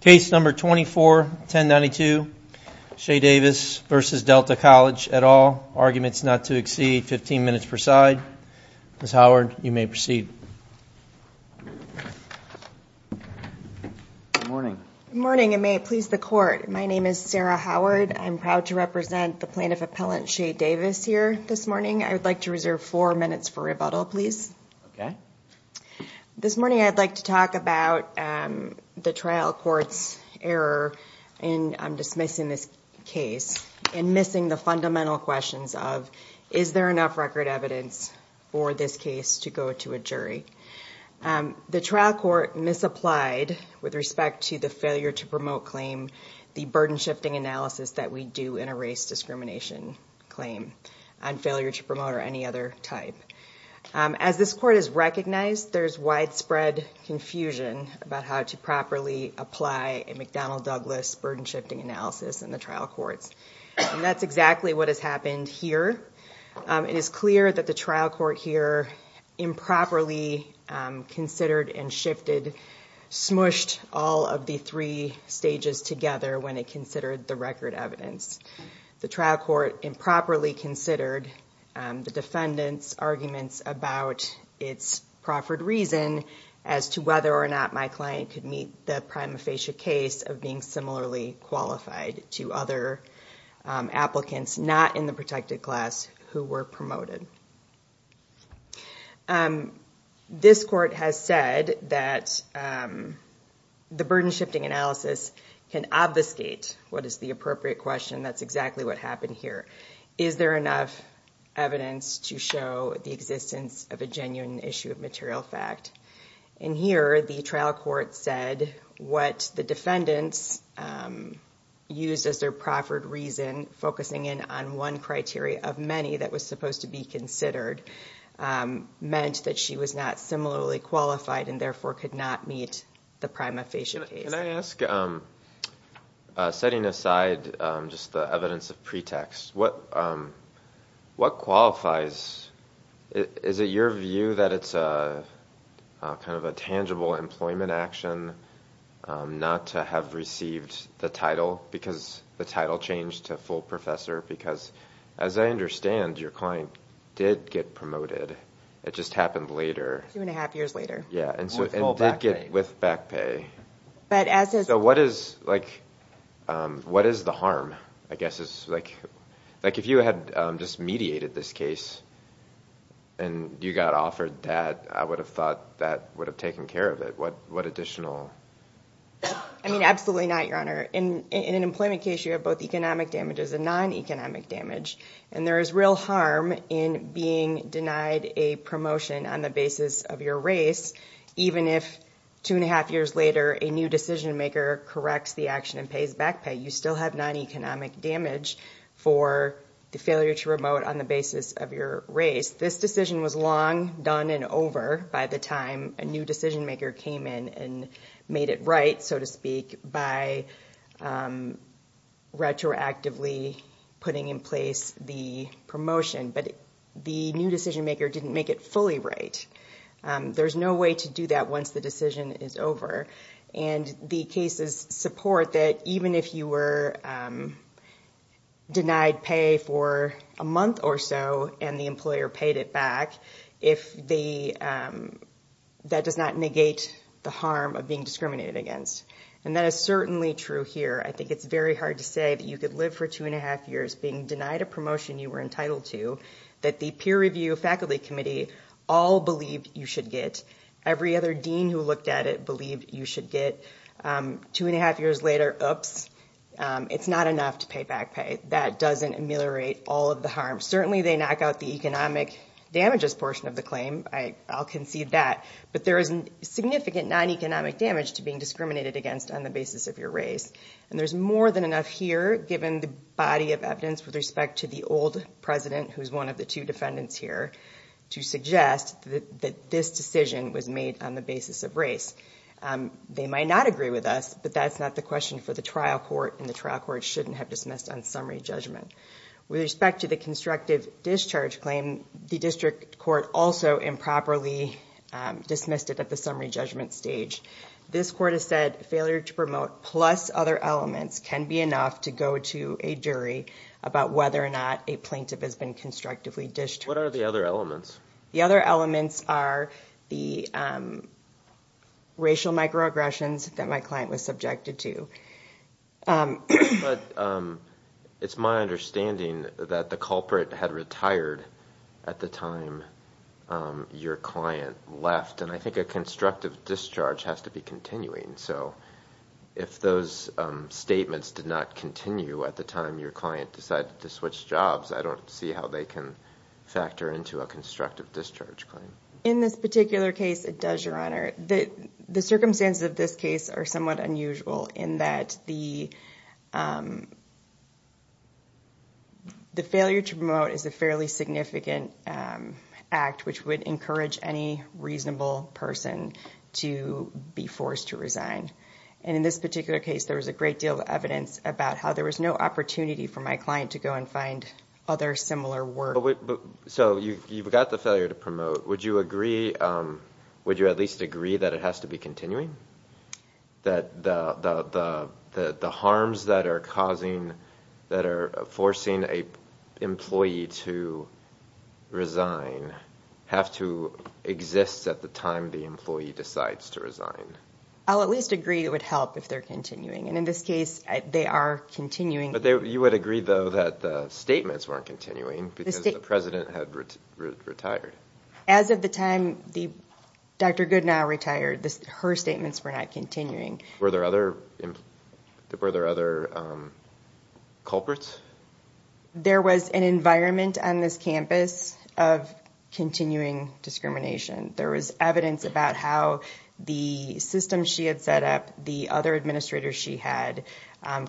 Case number 24-1092, Chey Davis v. Delta College et al. Arguments not to exceed 15 minutes per side. Ms. Howard, you may proceed. Good morning. Good morning, and may it please the court, my name is Sarah Howard. I'm proud to represent the plaintiff appellant Chey Davis here this morning. I would like to reserve four minutes for rebuttal, please. Okay. This morning I'd like to talk about the trial court's error in dismissing this case and missing the fundamental questions of, is there enough record evidence for this case to go to a jury? The trial court misapplied with respect to the failure to promote claim, the burden shifting analysis that we do in a race discrimination claim on failure to promote or any other type. As this court has recognized, there's widespread confusion about how to properly apply a McDonnell-Douglas burden shifting analysis in the trial courts. And that's exactly what has happened here. It is clear that the trial court here improperly considered and shifted, smushed all of the three stages together when it considered the record evidence. The trial court improperly considered the defendant's arguments about its proffered reason as to whether or not my client could meet the prima facie case of being similarly qualified to other applicants not in the protected class who were promoted. This court has said that the burden shifting analysis can obfuscate what is the appropriate question. That's exactly what happened here. Is there enough evidence to show the existence of a genuine issue of material fact? In here, the trial court said what the defendants used as their proffered reason, focusing in on one criteria of many that was supposed to be considered, meant that she was not similarly qualified and therefore could not meet the prima facie case. Can I ask, setting aside just the evidence of pretext, what qualifies? Is it your view that it's kind of a tangible employment action not to have received the title because the title changed to full professor? Because as I understand, your client did get promoted. It just happened later. Yeah, and did get with back pay. So what is the harm? If you had just mediated this case and you got offered that, I would have thought that would have taken care of it. What additional? I mean, absolutely not, Your Honor. In an employment case, you have both economic damages and non-economic damage. And there is real harm in being denied a promotion on the basis of your race, even if two and a half years later, a new decision maker corrects the action and pays back pay. You still have non-economic damage for the failure to promote on the basis of your race. This decision was long done and over by the time a new decision maker came in and made it right, so to speak, by retroactively putting in place the promotion. But the new decision maker didn't make it fully right. There's no way to do that once the decision is over. And the cases support that even if you were denied pay for a month or so and the employer paid it back, that does not negate the harm of being discriminated against. And that is certainly true here. I think it's very hard to say that you could live for two and a half years being denied a promotion you were entitled to, that the peer review faculty committee all believed you should get. Every other dean who looked at it believed you should get. Two and a half years later, oops, it's not enough to pay back pay. That doesn't ameliorate all of the harm. Certainly they knock out the economic damages portion of the claim. I'll concede that. But there is significant non-economic damage to being discriminated against on the basis of your race. And there's more than enough here given the body of evidence with respect to the old president who is one of the two defendants here to suggest that this decision was made on the basis of race. They might not agree with us, but that's not the question for the trial court and the trial court shouldn't have dismissed on summary judgment. With respect to the constructive discharge claim, the district court also improperly dismissed it at the summary judgment stage. This court has said failure to promote plus other elements can be enough to go to a jury about whether or not a plaintiff has been constructively discharged. The other elements are the racial microaggressions that my client was subjected to. But it's my understanding that the culprit had retired at the time your client left. And I think a constructive discharge has to be continuing. So if those statements did not continue at the time your client decided to switch jobs, I don't see how they can factor into a constructive discharge claim. In this particular case, it does, Your Honor. The circumstances of this case are somewhat unusual in that the failure to promote is a fairly significant act which would encourage any reasonable person to be forced to resign. And in this particular case, there was a great deal of evidence about how there was no opportunity for my client to go and find other similar work. So you've got the failure to promote. Would you at least agree that it has to be continuing? That the harms that are forcing an employee to resign have to exist at the time the employee decides to resign? I'll at least agree it would help if they're continuing. And in this case, they are continuing. But you would agree, though, that the statements weren't continuing because the president had retired. As of the time Dr. Goodenow retired, her statements were not continuing. Were there other culprits? There was an environment on this campus of continuing discrimination. There was evidence about how the system she had set up, the other administrators she had,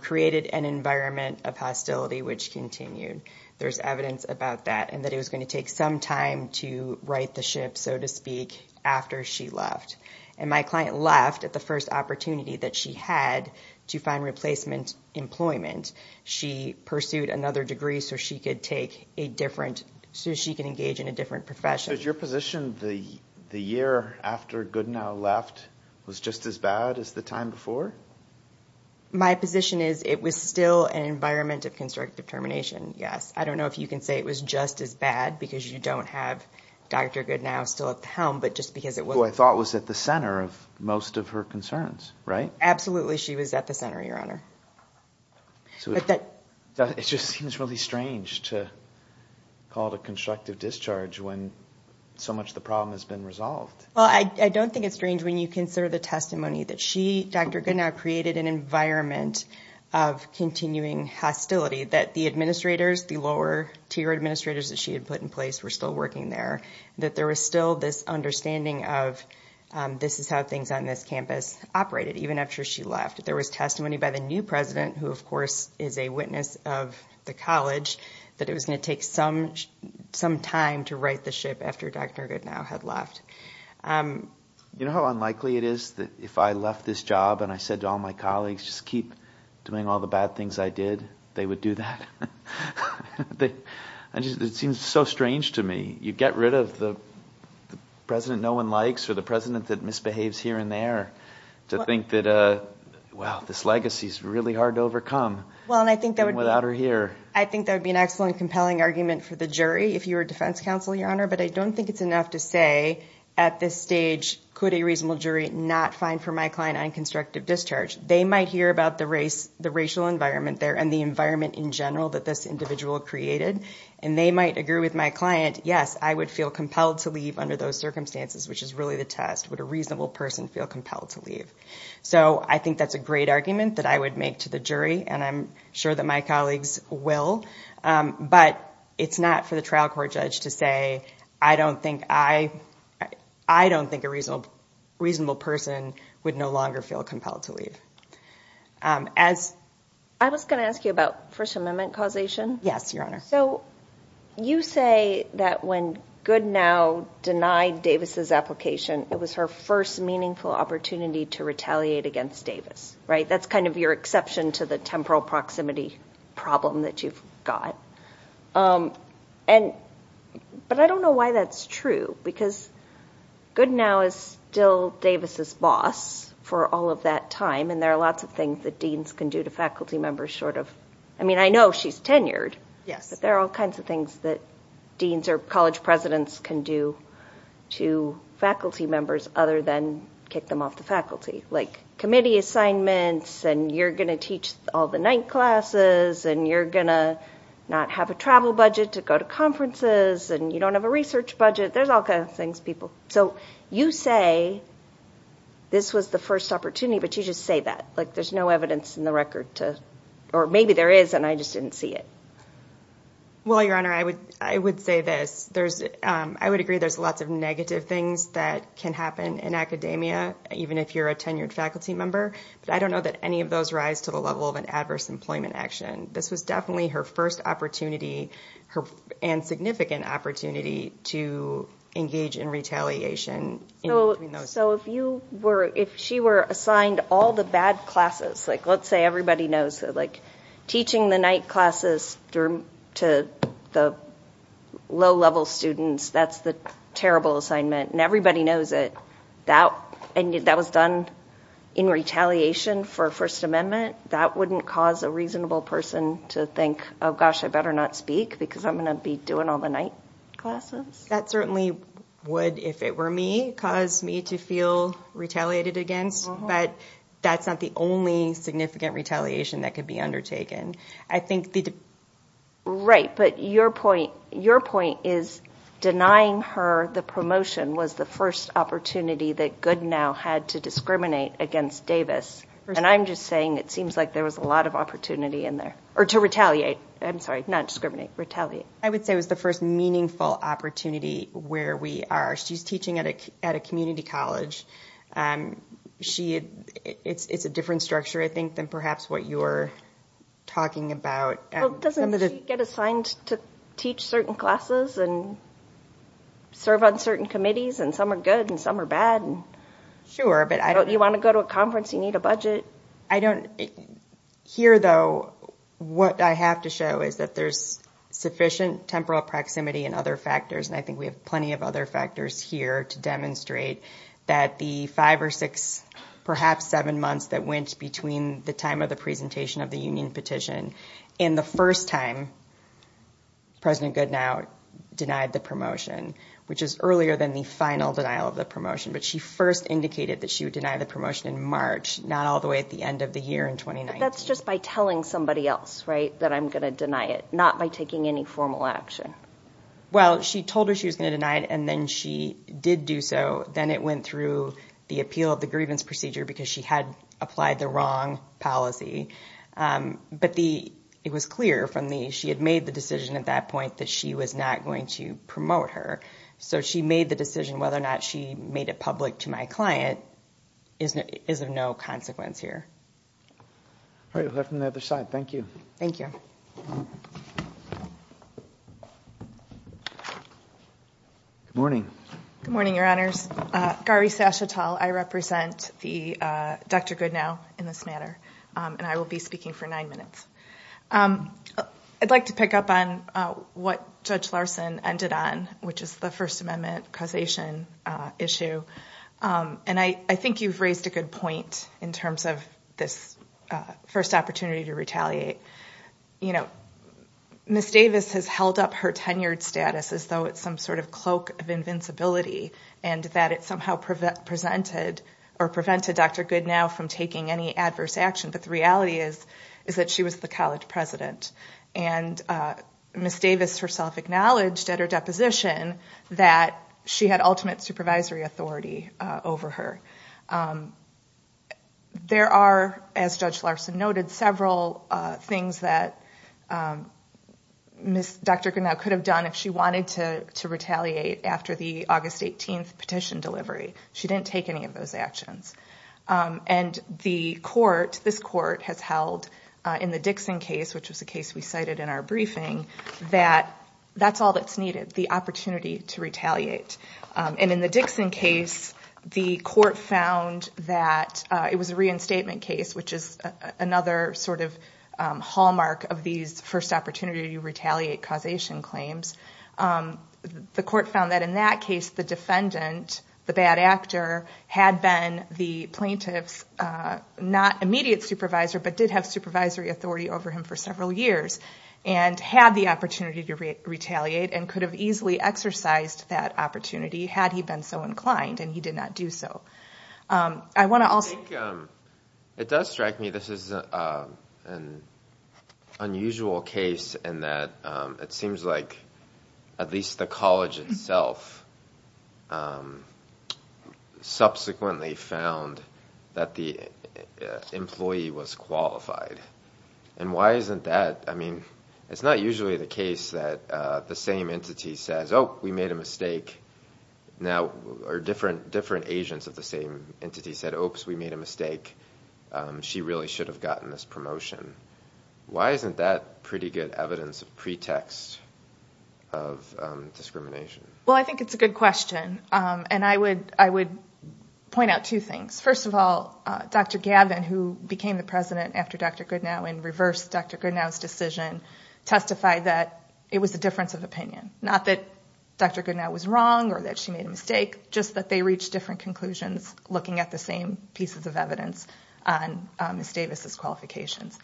created an environment of hostility which continued. There's evidence about that and that it was going to take some time to right the ship, so to speak, after she left. And my client left at the first opportunity that she had to find replacement employment. She pursued another degree so she could take a different, so she could engage in a different profession. Is your position the year after Goodenow left was just as bad as the time before? My position is it was still an environment of constructive termination, yes. I don't know if you can say it was just as bad because you don't have Dr. Goodenow still at the helm, but just because it wasn't. Who I thought was at the center of most of her concerns, right? Absolutely, she was at the center, Your Honor. It just seems really strange to call it a constructive discharge when so much of the problem has been resolved. Well, I don't think it's strange when you consider the testimony that she, Dr. Goodenow, created an environment of continuing hostility. That the administrators, the lower-tier administrators that she had put in place were still working there. That there was still this understanding of this is how things on this campus operated, even after she left. There was testimony by the new president, who of course is a witness of the college, that it was going to take some time to right the ship after Dr. Goodenow had left. You know how unlikely it is that if I left this job and I said to all my colleagues, just keep doing all the bad things I did, they would do that? It seems so strange to me. You get rid of the president no one likes or the president that misbehaves here and there. To think that, wow, this legacy is really hard to overcome without her here. I think that would be an excellent, compelling argument for the jury if you were defense counsel, Your Honor. But I don't think it's enough to say at this stage, could a reasonable jury not find for my client unconstructive discharge? They might hear about the racial environment there and the environment in general that this individual created. And they might agree with my client, yes, I would feel compelled to leave under those circumstances, which is really the test. Would a reasonable person feel compelled to leave? So I think that's a great argument that I would make to the jury. And I'm sure that my colleagues will. But it's not for the trial court judge to say, I don't think a reasonable person would no longer feel compelled to leave. I was going to ask you about First Amendment causation. Yes, Your Honor. So you say that when Goodenow denied Davis's application, it was her first meaningful opportunity to retaliate against Davis, right? That's kind of your exception to the temporal proximity problem that you've got. But I don't know why that's true, because Goodenow is still Davis's boss for all of that time. And there are lots of things that deans can do to faculty members short of, I mean, I know she's tenured. But there are all kinds of things that deans or college presidents can do to faculty members other than kick them off the faculty. Like committee assignments, and you're going to teach all the night classes, and you're going to not have a travel budget to go to conferences, and you don't have a research budget. There's all kinds of things, people. So you say this was the first opportunity, but you just say that. Like there's no evidence in the record to, or maybe there is, and I just didn't see it. Well, Your Honor, I would say this. I would agree there's lots of negative things that can happen in academia, even if you're a tenured faculty member. But I don't know that any of those rise to the level of an adverse employment action. This was definitely her first opportunity, and significant opportunity, to engage in retaliation. So if she were assigned all the bad classes, like let's say everybody knows, like teaching the night classes to the low-level students, that's the terrible assignment, and everybody knows it, and that was done in retaliation for First Amendment, that wouldn't cause a reasonable person to think, oh gosh, I better not speak because I'm going to be doing all the night classes? That certainly would, if it were me, cause me to feel retaliated against. But that's not the only significant retaliation that could be undertaken. I think the... Right, but your point is denying her the promotion was the first opportunity that Goodenow had to discriminate against Davis. And I'm just saying it seems like there was a lot of opportunity in there, or to retaliate. I'm sorry, not discriminate, retaliate. I would say it was the first meaningful opportunity where we are. She's teaching at a community college. It's a different structure, I think, than perhaps what you're talking about. Doesn't she get assigned to teach certain classes and serve on certain committees, and some are good and some are bad? Sure, but I don't... You want to go to a conference, you need a budget. I don't... Here, though, what I have to show is that there's sufficient temporal proximity and other factors, and I think we have plenty of other factors here to demonstrate that the five or six, perhaps seven months that went between the time of the presentation of the union petition and the first time President Goodenow denied the promotion, which is earlier than the final denial of the promotion, but she first indicated that she would deny the promotion in March, not all the way at the end of the year in 2019. But that's just by telling somebody else, right, that I'm going to deny it, not by taking any formal action. Well, she told her she was going to deny it, and then she did do so. Then it went through the appeal of the grievance procedure because she had applied the wrong policy. But it was clear from the... She had made the decision at that point that she was not going to promote her. So she made the decision whether or not she made it public to my client is of no consequence here. All right, we'll have from the other side. Thank you. Thank you. Good morning. Good morning, Your Honors. Garvey Sashatall, I represent Dr. Goodenow in this matter, and I will be speaking for nine minutes. I'd like to pick up on what Judge Larson ended on, which is the First Amendment causation issue. And I think you've raised a good point in terms of this first opportunity to retaliate. You know, Ms. Davis has held up her tenured status as though it's some sort of cloak of invincibility, and that it somehow prevented Dr. Goodenow from taking any adverse action. But the reality is that she was the college president. And Ms. Davis herself acknowledged at her deposition that she had ultimate supervisory authority over her. There are, as Judge Larson noted, several things that Dr. Goodenow could have done if she wanted to retaliate after the August 18th petition delivery. She didn't take any of those actions. And the court, this court, has held in the Dixon case, which was the case we cited in our briefing, that that's all that's needed, the opportunity to retaliate. And in the Dixon case, the court found that it was a reinstatement case, which is another sort of hallmark of these first opportunity to retaliate causation claims. The court found that in that case, the defendant, the bad actor, had been the plaintiff's not immediate supervisor, but did have supervisory authority over him for several years, and had the opportunity to retaliate and could have easily exercised that opportunity had he been so inclined, and he did not do so. I want to also... I think it does strike me this is an unusual case in that it seems like at least the college itself subsequently found that the employee was qualified. And why isn't that, I mean, it's not usually the case that the same entity says, oh, we made a mistake, or different agents of the same entity said, oops, we made a mistake, she really should have gotten this promotion. Why isn't that pretty good evidence of pretext of discrimination? Well, I think it's a good question. And I would point out two things. First of all, Dr. Gavin, who became the president after Dr. Goodnow and reversed Dr. Goodnow's decision, testified that it was a difference of opinion. Not that Dr. Goodnow was wrong or that she made a mistake, just that they reached different conclusions looking at the same pieces of evidence on Ms. Davis's qualifications.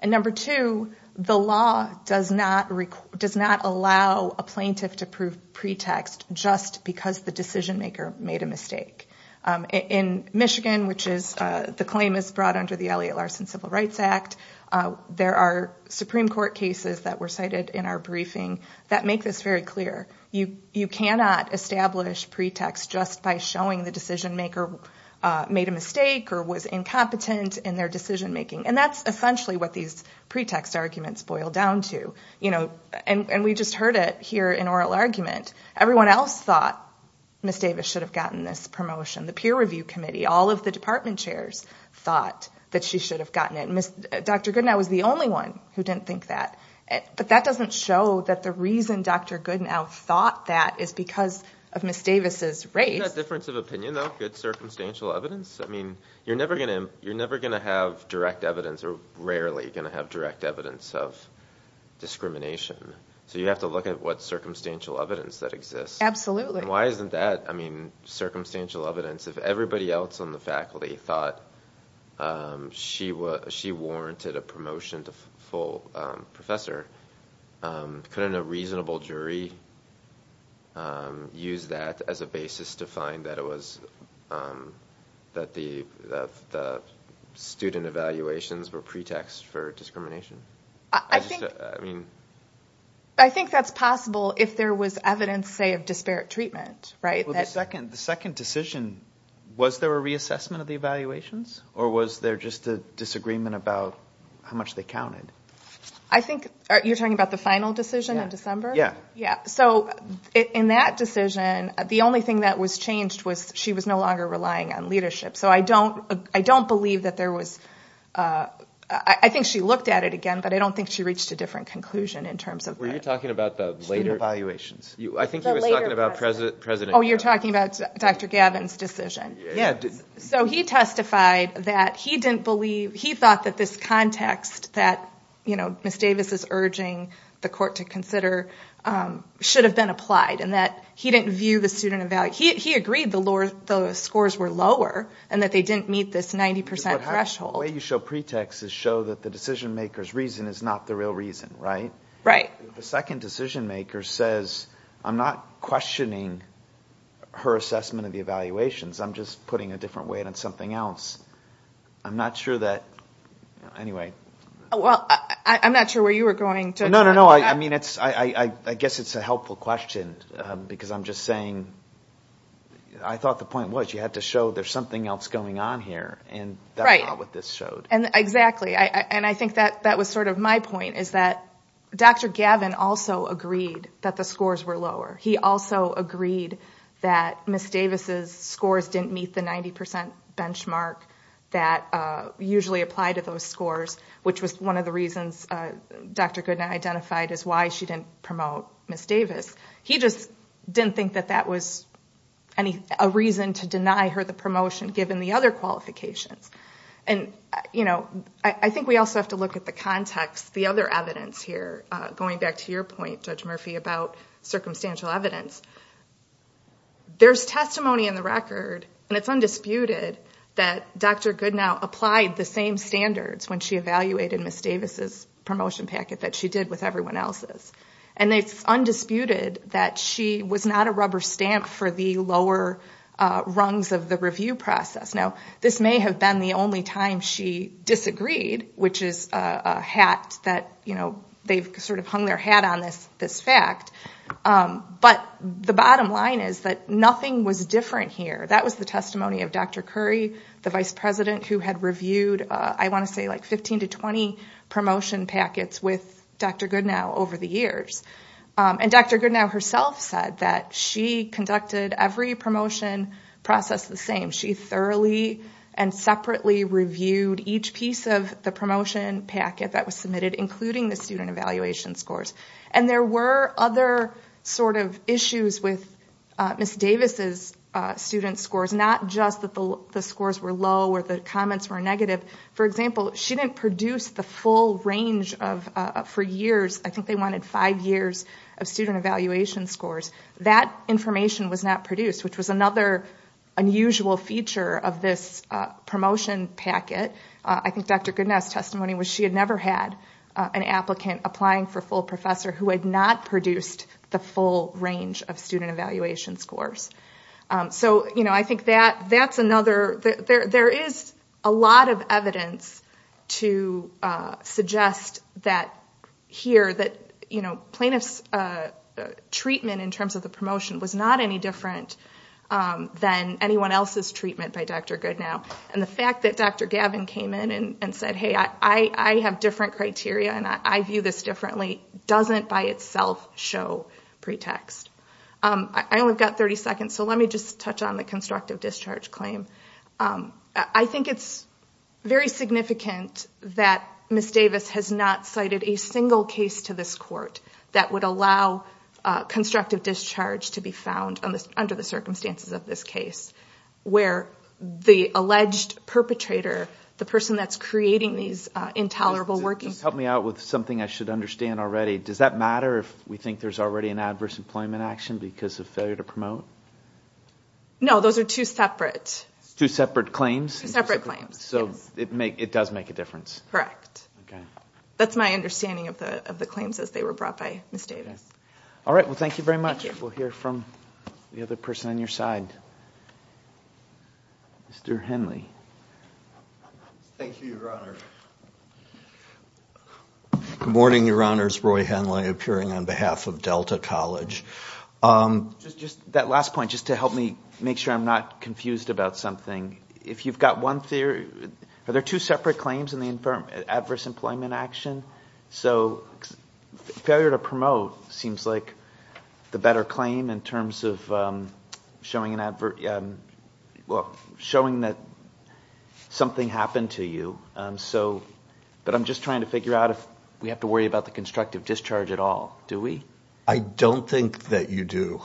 And number two, the law does not allow a plaintiff to prove pretext just because the decision maker made a mistake. In Michigan, which is... the claim is brought under the Elliott Larson Civil Rights Act, there are Supreme Court cases that were cited in our briefing that make this very clear. You cannot establish pretext just by showing the decision maker made a mistake or was incompetent in their decision making. And that's essentially what these pretext arguments boil down to. And we just heard it here in oral argument. Everyone else thought Ms. Davis should have gotten this promotion. The peer review committee, all of the department chairs thought that she should have gotten it. And Dr. Goodnow was the only one who didn't think that. But that doesn't show that the reason Dr. Goodnow thought that is because of Ms. Davis's race. Isn't that difference of opinion, though? Good circumstantial evidence? I mean, you're never going to have direct evidence or rarely going to have direct evidence of discrimination. So you have to look at what circumstantial evidence that exists. Absolutely. And why isn't that, I mean, circumstantial evidence? If everybody else on the faculty thought she warranted a promotion to full professor, couldn't a reasonable jury use that as a basis to find that the student evaluations were pretext for discrimination? I think that's possible if there was evidence, say, of disparate treatment. The second decision, was there a reassessment of the evaluations? Or was there just a disagreement about how much they counted? I think you're talking about the final decision in December? Yeah. So in that decision, the only thing that was changed was she was no longer relying on leadership. So I don't believe that there was, I think she looked at it again, but I don't think she reached a different conclusion in terms of student evaluations. I think you were talking about President Gavin. Oh, you're talking about Dr. Gavin's decision. So he testified that he didn't believe, he thought that this context that Ms. Davis is urging the court to consider should have been applied, and that he didn't view the student evaluation, he agreed the scores were lower and that they didn't meet this 90% threshold. The way you show pretext is show that the decision maker's reason is not the real reason, right? Right. The second decision maker says, I'm not questioning her assessment of the evaluations, I'm just putting a different weight on something else. I'm not sure that, anyway. Well, I'm not sure where you were going. No, no, no, I mean, I guess it's a helpful question, because I'm just saying, I thought the point was you had to show there's something else going on here, and that's not what this showed. Exactly, and I think that was sort of my point, is that Dr. Gavin also agreed that the scores were lower. He also agreed that Ms. Davis' scores didn't meet the 90% benchmark that usually apply to those scores, which was one of the reasons Dr. Goodnight identified as why she didn't promote Ms. Davis. He just didn't think that that was a reason to deny her the promotion, given the other qualifications. And, you know, I think we also have to look at the context, the other evidence here, going back to your point, Judge Murphy, about circumstantial evidence. There's testimony in the record, and it's undisputed, that Dr. Goodnight applied the same standards when she evaluated Ms. Davis' promotion packet that she did with everyone else's. And it's undisputed that she was not a rubber stamp for the lower rungs of the review process. Now, this may have been the only time she disagreed, which is a hat that, you know, they've sort of hung their hat on this fact. But the bottom line is that nothing was different here. That was the testimony of Dr. Curry, the vice president, who had reviewed, I want to say, like 15 to 20 promotion packets with Dr. Goodnow over the years. And Dr. Goodnow herself said that she conducted every promotion process the same. She thoroughly and separately reviewed each piece of the promotion packet that was submitted, including the student evaluation scores. And there were other sort of issues with Ms. Davis' student scores, not just that the scores were low or the comments were negative. For example, she didn't produce the full range of, for years, I think they wanted five years of student evaluation scores. That information was not produced, which was another unusual feature of this promotion packet. I think Dr. Goodnow's testimony was she had never had an applicant applying for full professor who had not produced the full range of student evaluation scores. So, you know, I think that's another. There is a lot of evidence to suggest that here, that, you know, the kind of treatment in terms of the promotion was not any different than anyone else's treatment by Dr. Goodnow. And the fact that Dr. Gavin came in and said, hey, I have different criteria, and I view this differently, doesn't by itself show pretext. I only got 30 seconds, so let me just touch on the constructive discharge claim. I think it's very significant that Ms. Davis has not cited a single case to this court that would allow constructive discharge to be found under the circumstances of this case, where the alleged perpetrator, the person that's creating these intolerable working... Just help me out with something I should understand already. Does that matter if we think there's already an adverse employment action because of failure to promote? No, those are two separate... Two separate claims? Two separate claims, yes. So it does make a difference? Correct. That's my understanding of the claims as they were brought by Ms. Davis. All right, well, thank you very much. We'll hear from the other person on your side. Mr. Henley. Thank you, Your Honor. Good morning, Your Honors. Roy Henley, appearing on behalf of Delta College. Just that last point, just to help me make sure I'm not confused about something. If you've got one theory... Are there two separate claims in the adverse employment action? So failure to promote seems like the better claim in terms of showing that something happened to you. But I'm just trying to figure out if we have to worry about the constructive discharge at all. Do we? I don't think that you do.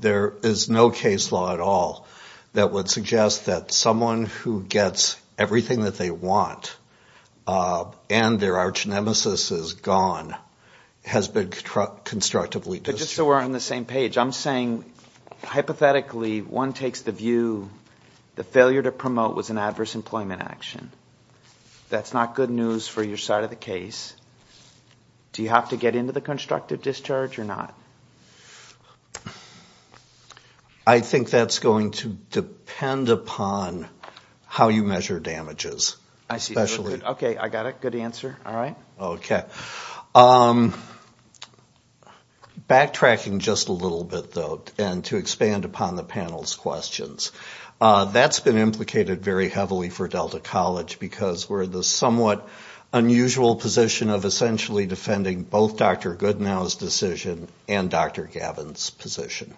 There is no case law at all that would suggest that someone who gets everything that they want and their archnemesis is gone has been constructively discharged. But just so we're on the same page, I'm saying hypothetically one takes the view the failure to promote was an adverse employment action. That's not good news for your side of the case. Do you have to get into the constructive discharge or not? I think that's going to depend upon how you measure damages. I see. Okay, I got it. Good answer. All right. Okay. Backtracking just a little bit, though, and to expand upon the panel's questions. That's been implicated very heavily for Delta College because we're in the somewhat unusual position of essentially defending both Dr. Goodnow's decision and Dr. Gavin's position.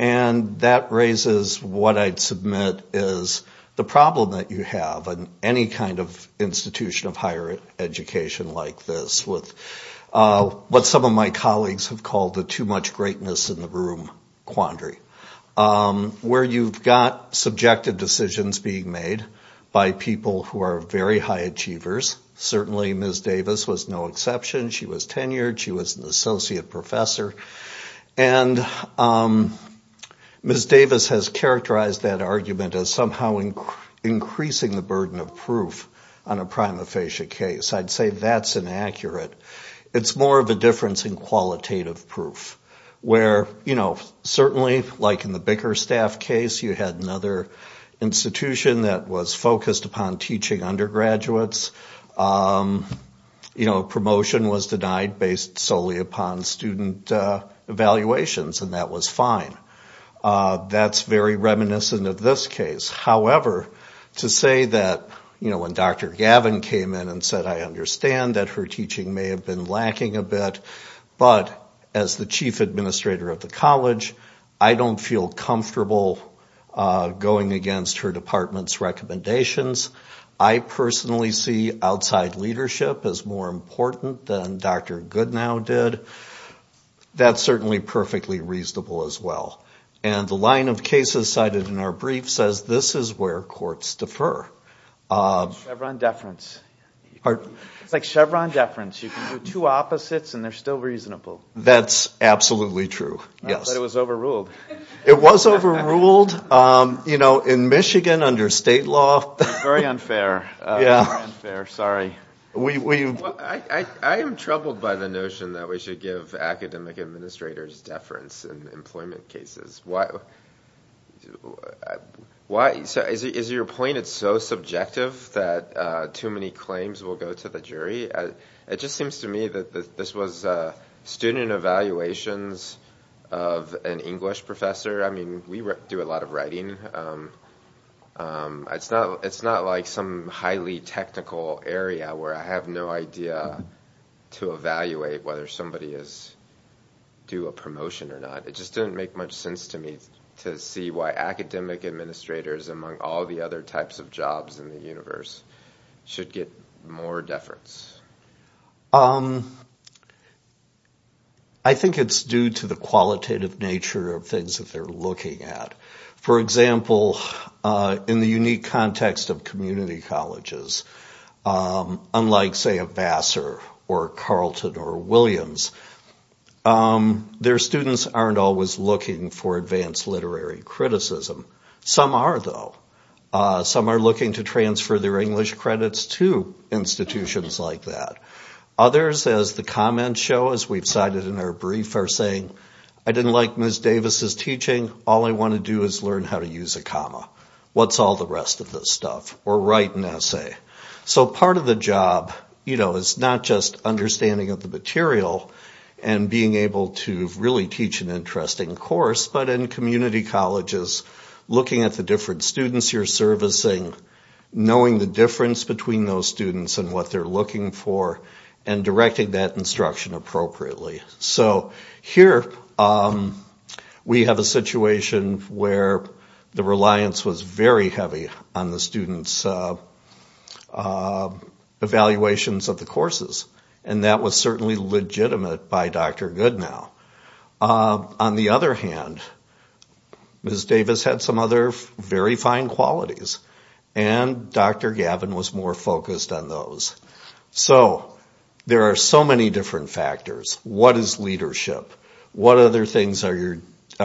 And that raises what I'd submit is the problem that you have in any kind of institution of higher education like this with what some of my colleagues have called the too much greatness in the room quandary where you've got subjective decisions being made by people who are very high achievers. Certainly Ms. Davis was no exception. She was tenured. She was an associate professor. And Ms. Davis has characterized that argument as somehow increasing the burden of proof on a prima facie case. I'd say that's inaccurate. It's more of a difference in qualitative proof where, you know, certainly like in the Bickerstaff case, you had another institution that was focused upon teaching undergraduates. You know, promotion was denied based solely upon student evaluations. And that was fine. That's very reminiscent of this case. However, to say that, you know, when Dr. Gavin came in and said, I understand that her teaching may have been lacking a bit, but as the chief administrator of the college, I don't feel comfortable going against her department's recommendations. I personally see outside leadership as more important than Dr. Goodnow did. That's certainly perfectly reasonable as well. And the line of cases cited in our brief says this is where courts defer. Chevron deference. It's like Chevron deference. You can do two opposites and they're still reasonable. That's absolutely true, yes. It was overruled. It was overruled, you know, in Michigan under state law. Very unfair. Very unfair, sorry. I am troubled by the notion that we should give academic administrators deference in employment cases. Why? Is your point it's so subjective that too many claims will go to the jury? It just seems to me that this was student evaluations of an English professor. I mean, we do a lot of writing. It's not like some highly technical area where I have no idea to evaluate whether somebody is due a promotion or not. It just didn't make much sense to me to see why academic administrators, among all the other types of jobs in the universe, should get more deference. I think it's due to the qualitative nature of things that they're looking at. For example, in the unique context of community colleges, unlike say a Vassar or Carlton or Williams, their students aren't always looking for advanced literary criticism. Some are though. Some are looking to transfer their English credits to institutions like that. Others, as the comments show, as we've cited in our brief, are saying, I didn't like Ms. Davis' teaching. All I want to do is learn how to use a comma. What's all the rest of this stuff? Or write an essay. So part of the job is not just understanding of the material and being able to really teach an interesting course, but in community colleges, looking at the different students you're servicing, knowing the difference between those students and what they're looking for, and directing that instruction appropriately. So here we have a situation where the reliance was very heavy on the students' evaluations of the courses. And that was certainly legitimate by Dr. Goodnow. On the other hand, Ms. Davis had some other very fine qualities, and Dr. Gavin was more focused on those. So there are so many different factors. What is leadership? What other things are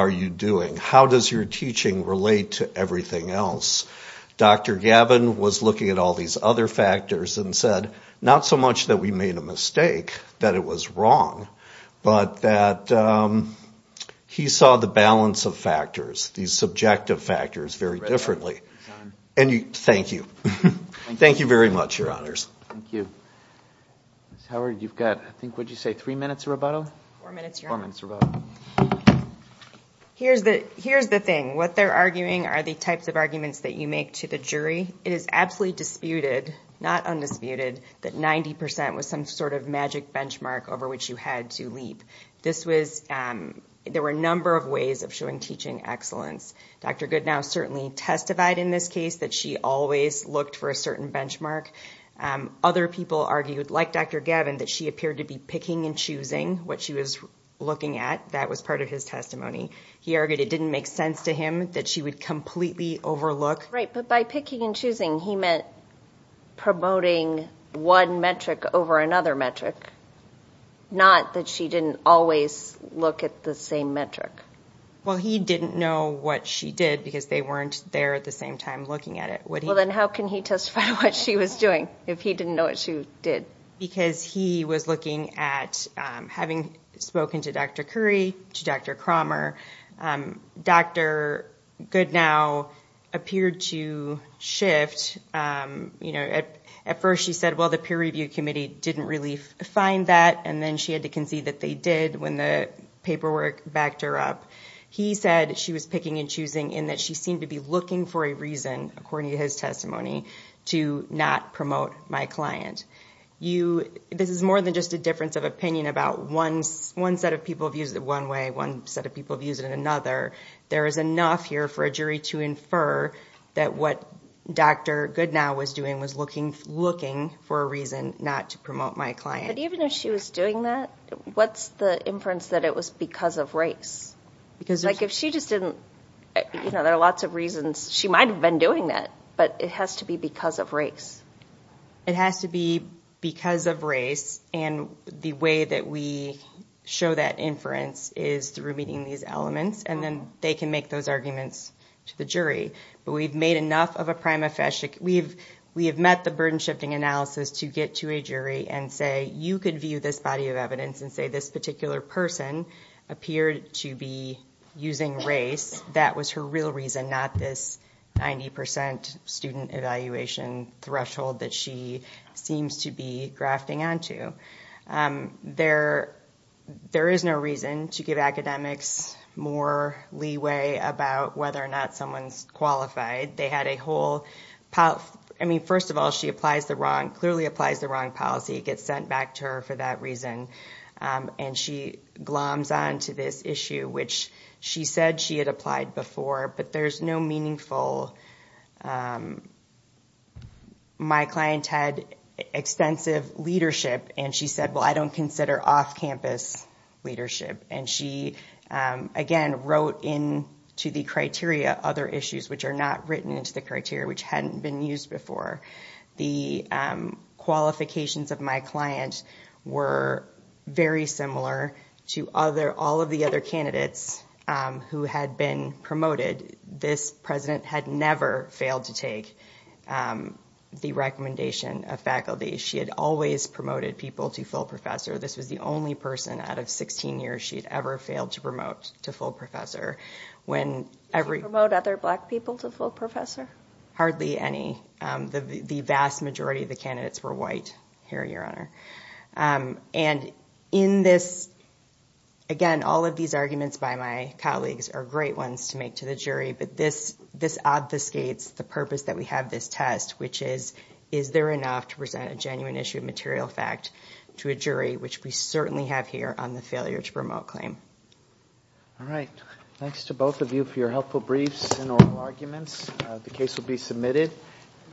you doing? How does your teaching relate to everything else? Dr. Gavin was looking at all these other factors and said, not so much that we made a mistake, that it was wrong, but that he saw the balance of factors, these subjective factors, very differently. And thank you. Thank you very much, Your Honors. Thank you. Ms. Howard, you've got, I think, what did you say, three minutes of rebuttal? Four minutes, Your Honor. Here's the thing. What they're arguing are the types of arguments that you make to the jury. It is absolutely disputed, not undisputed, that 90% was some sort of magic benchmark over which you had to leap. There were a number of ways of showing teaching excellence. Dr. Goodnow certainly testified in this case that she always looked for a certain benchmark. Other people argued, like Dr. Gavin, that she appeared to be picking and choosing what she was looking at. That was part of his testimony. He argued it didn't make sense to him that she would completely overlook. Right, but by picking and choosing, he meant promoting one metric over another metric, not that she didn't always look at the same metric. Well, he didn't know what she did because they weren't there at the same time looking at it. Well, then how can he testify to what she was doing if he didn't know what she did? Because he was looking at, having spoken to Dr. Curry, to Dr. Cromer, Dr. Goodnow appeared to shift. At first, she said, well, the peer review committee didn't really find that, and then she had to concede that they did when the paperwork backed her up. He said she was picking and choosing in that she seemed to be looking for a reason, according to his testimony, to not promote my client. This is more than just a difference of opinion about one set of people views it one way, one set of people views it another. There is enough here for a jury to infer that what Dr. Goodnow was doing was looking for a reason not to promote my client. But even if she was doing that, what's the inference that it was because of race? Because if she just didn't, there are lots of reasons she might have been doing that, but it has to be because of race. It has to be because of race, and the way that we show that inference is through meeting these elements, and then they can make those arguments to the jury. But we've made enough of a prima facie. We have met the burden-shifting analysis to get to a jury and say, you could view this body of evidence and say this particular person appeared to be using race. That was her real reason, not this 90% student evaluation threshold that she seems to be grafting onto. There is no reason to give academics more leeway about whether or not someone's qualified. They had a whole... I mean, first of all, she clearly applies the wrong policy. It gets sent back to her for that reason, and she gloms on to this issue, which she said she had applied before, but there's no meaningful... My client had extensive leadership and she said, well, I don't consider off-campus leadership. And she, again, wrote into the criteria other issues which are not written into the criteria which hadn't been used before. The qualifications of my client were very similar to all of the other candidates who had been promoted. This president had never failed to take the recommendation of faculty. She had always promoted people to full professor. This was the only person out of 16 years she had ever failed to promote to full professor. When every... Did she promote other black people to full professor? Hardly any. The vast majority of the candidates were white, Harry, Your Honor. And in this... Again, all of these arguments by my colleagues are great ones to make to the jury, but this obfuscates the purpose that we have this test, which is, is there enough to present a genuine issue of material fact to a jury, which we certainly have here on the failure to promote claim. All right. Thanks to both of you for your helpful briefs and oral arguments. The case will be submitted.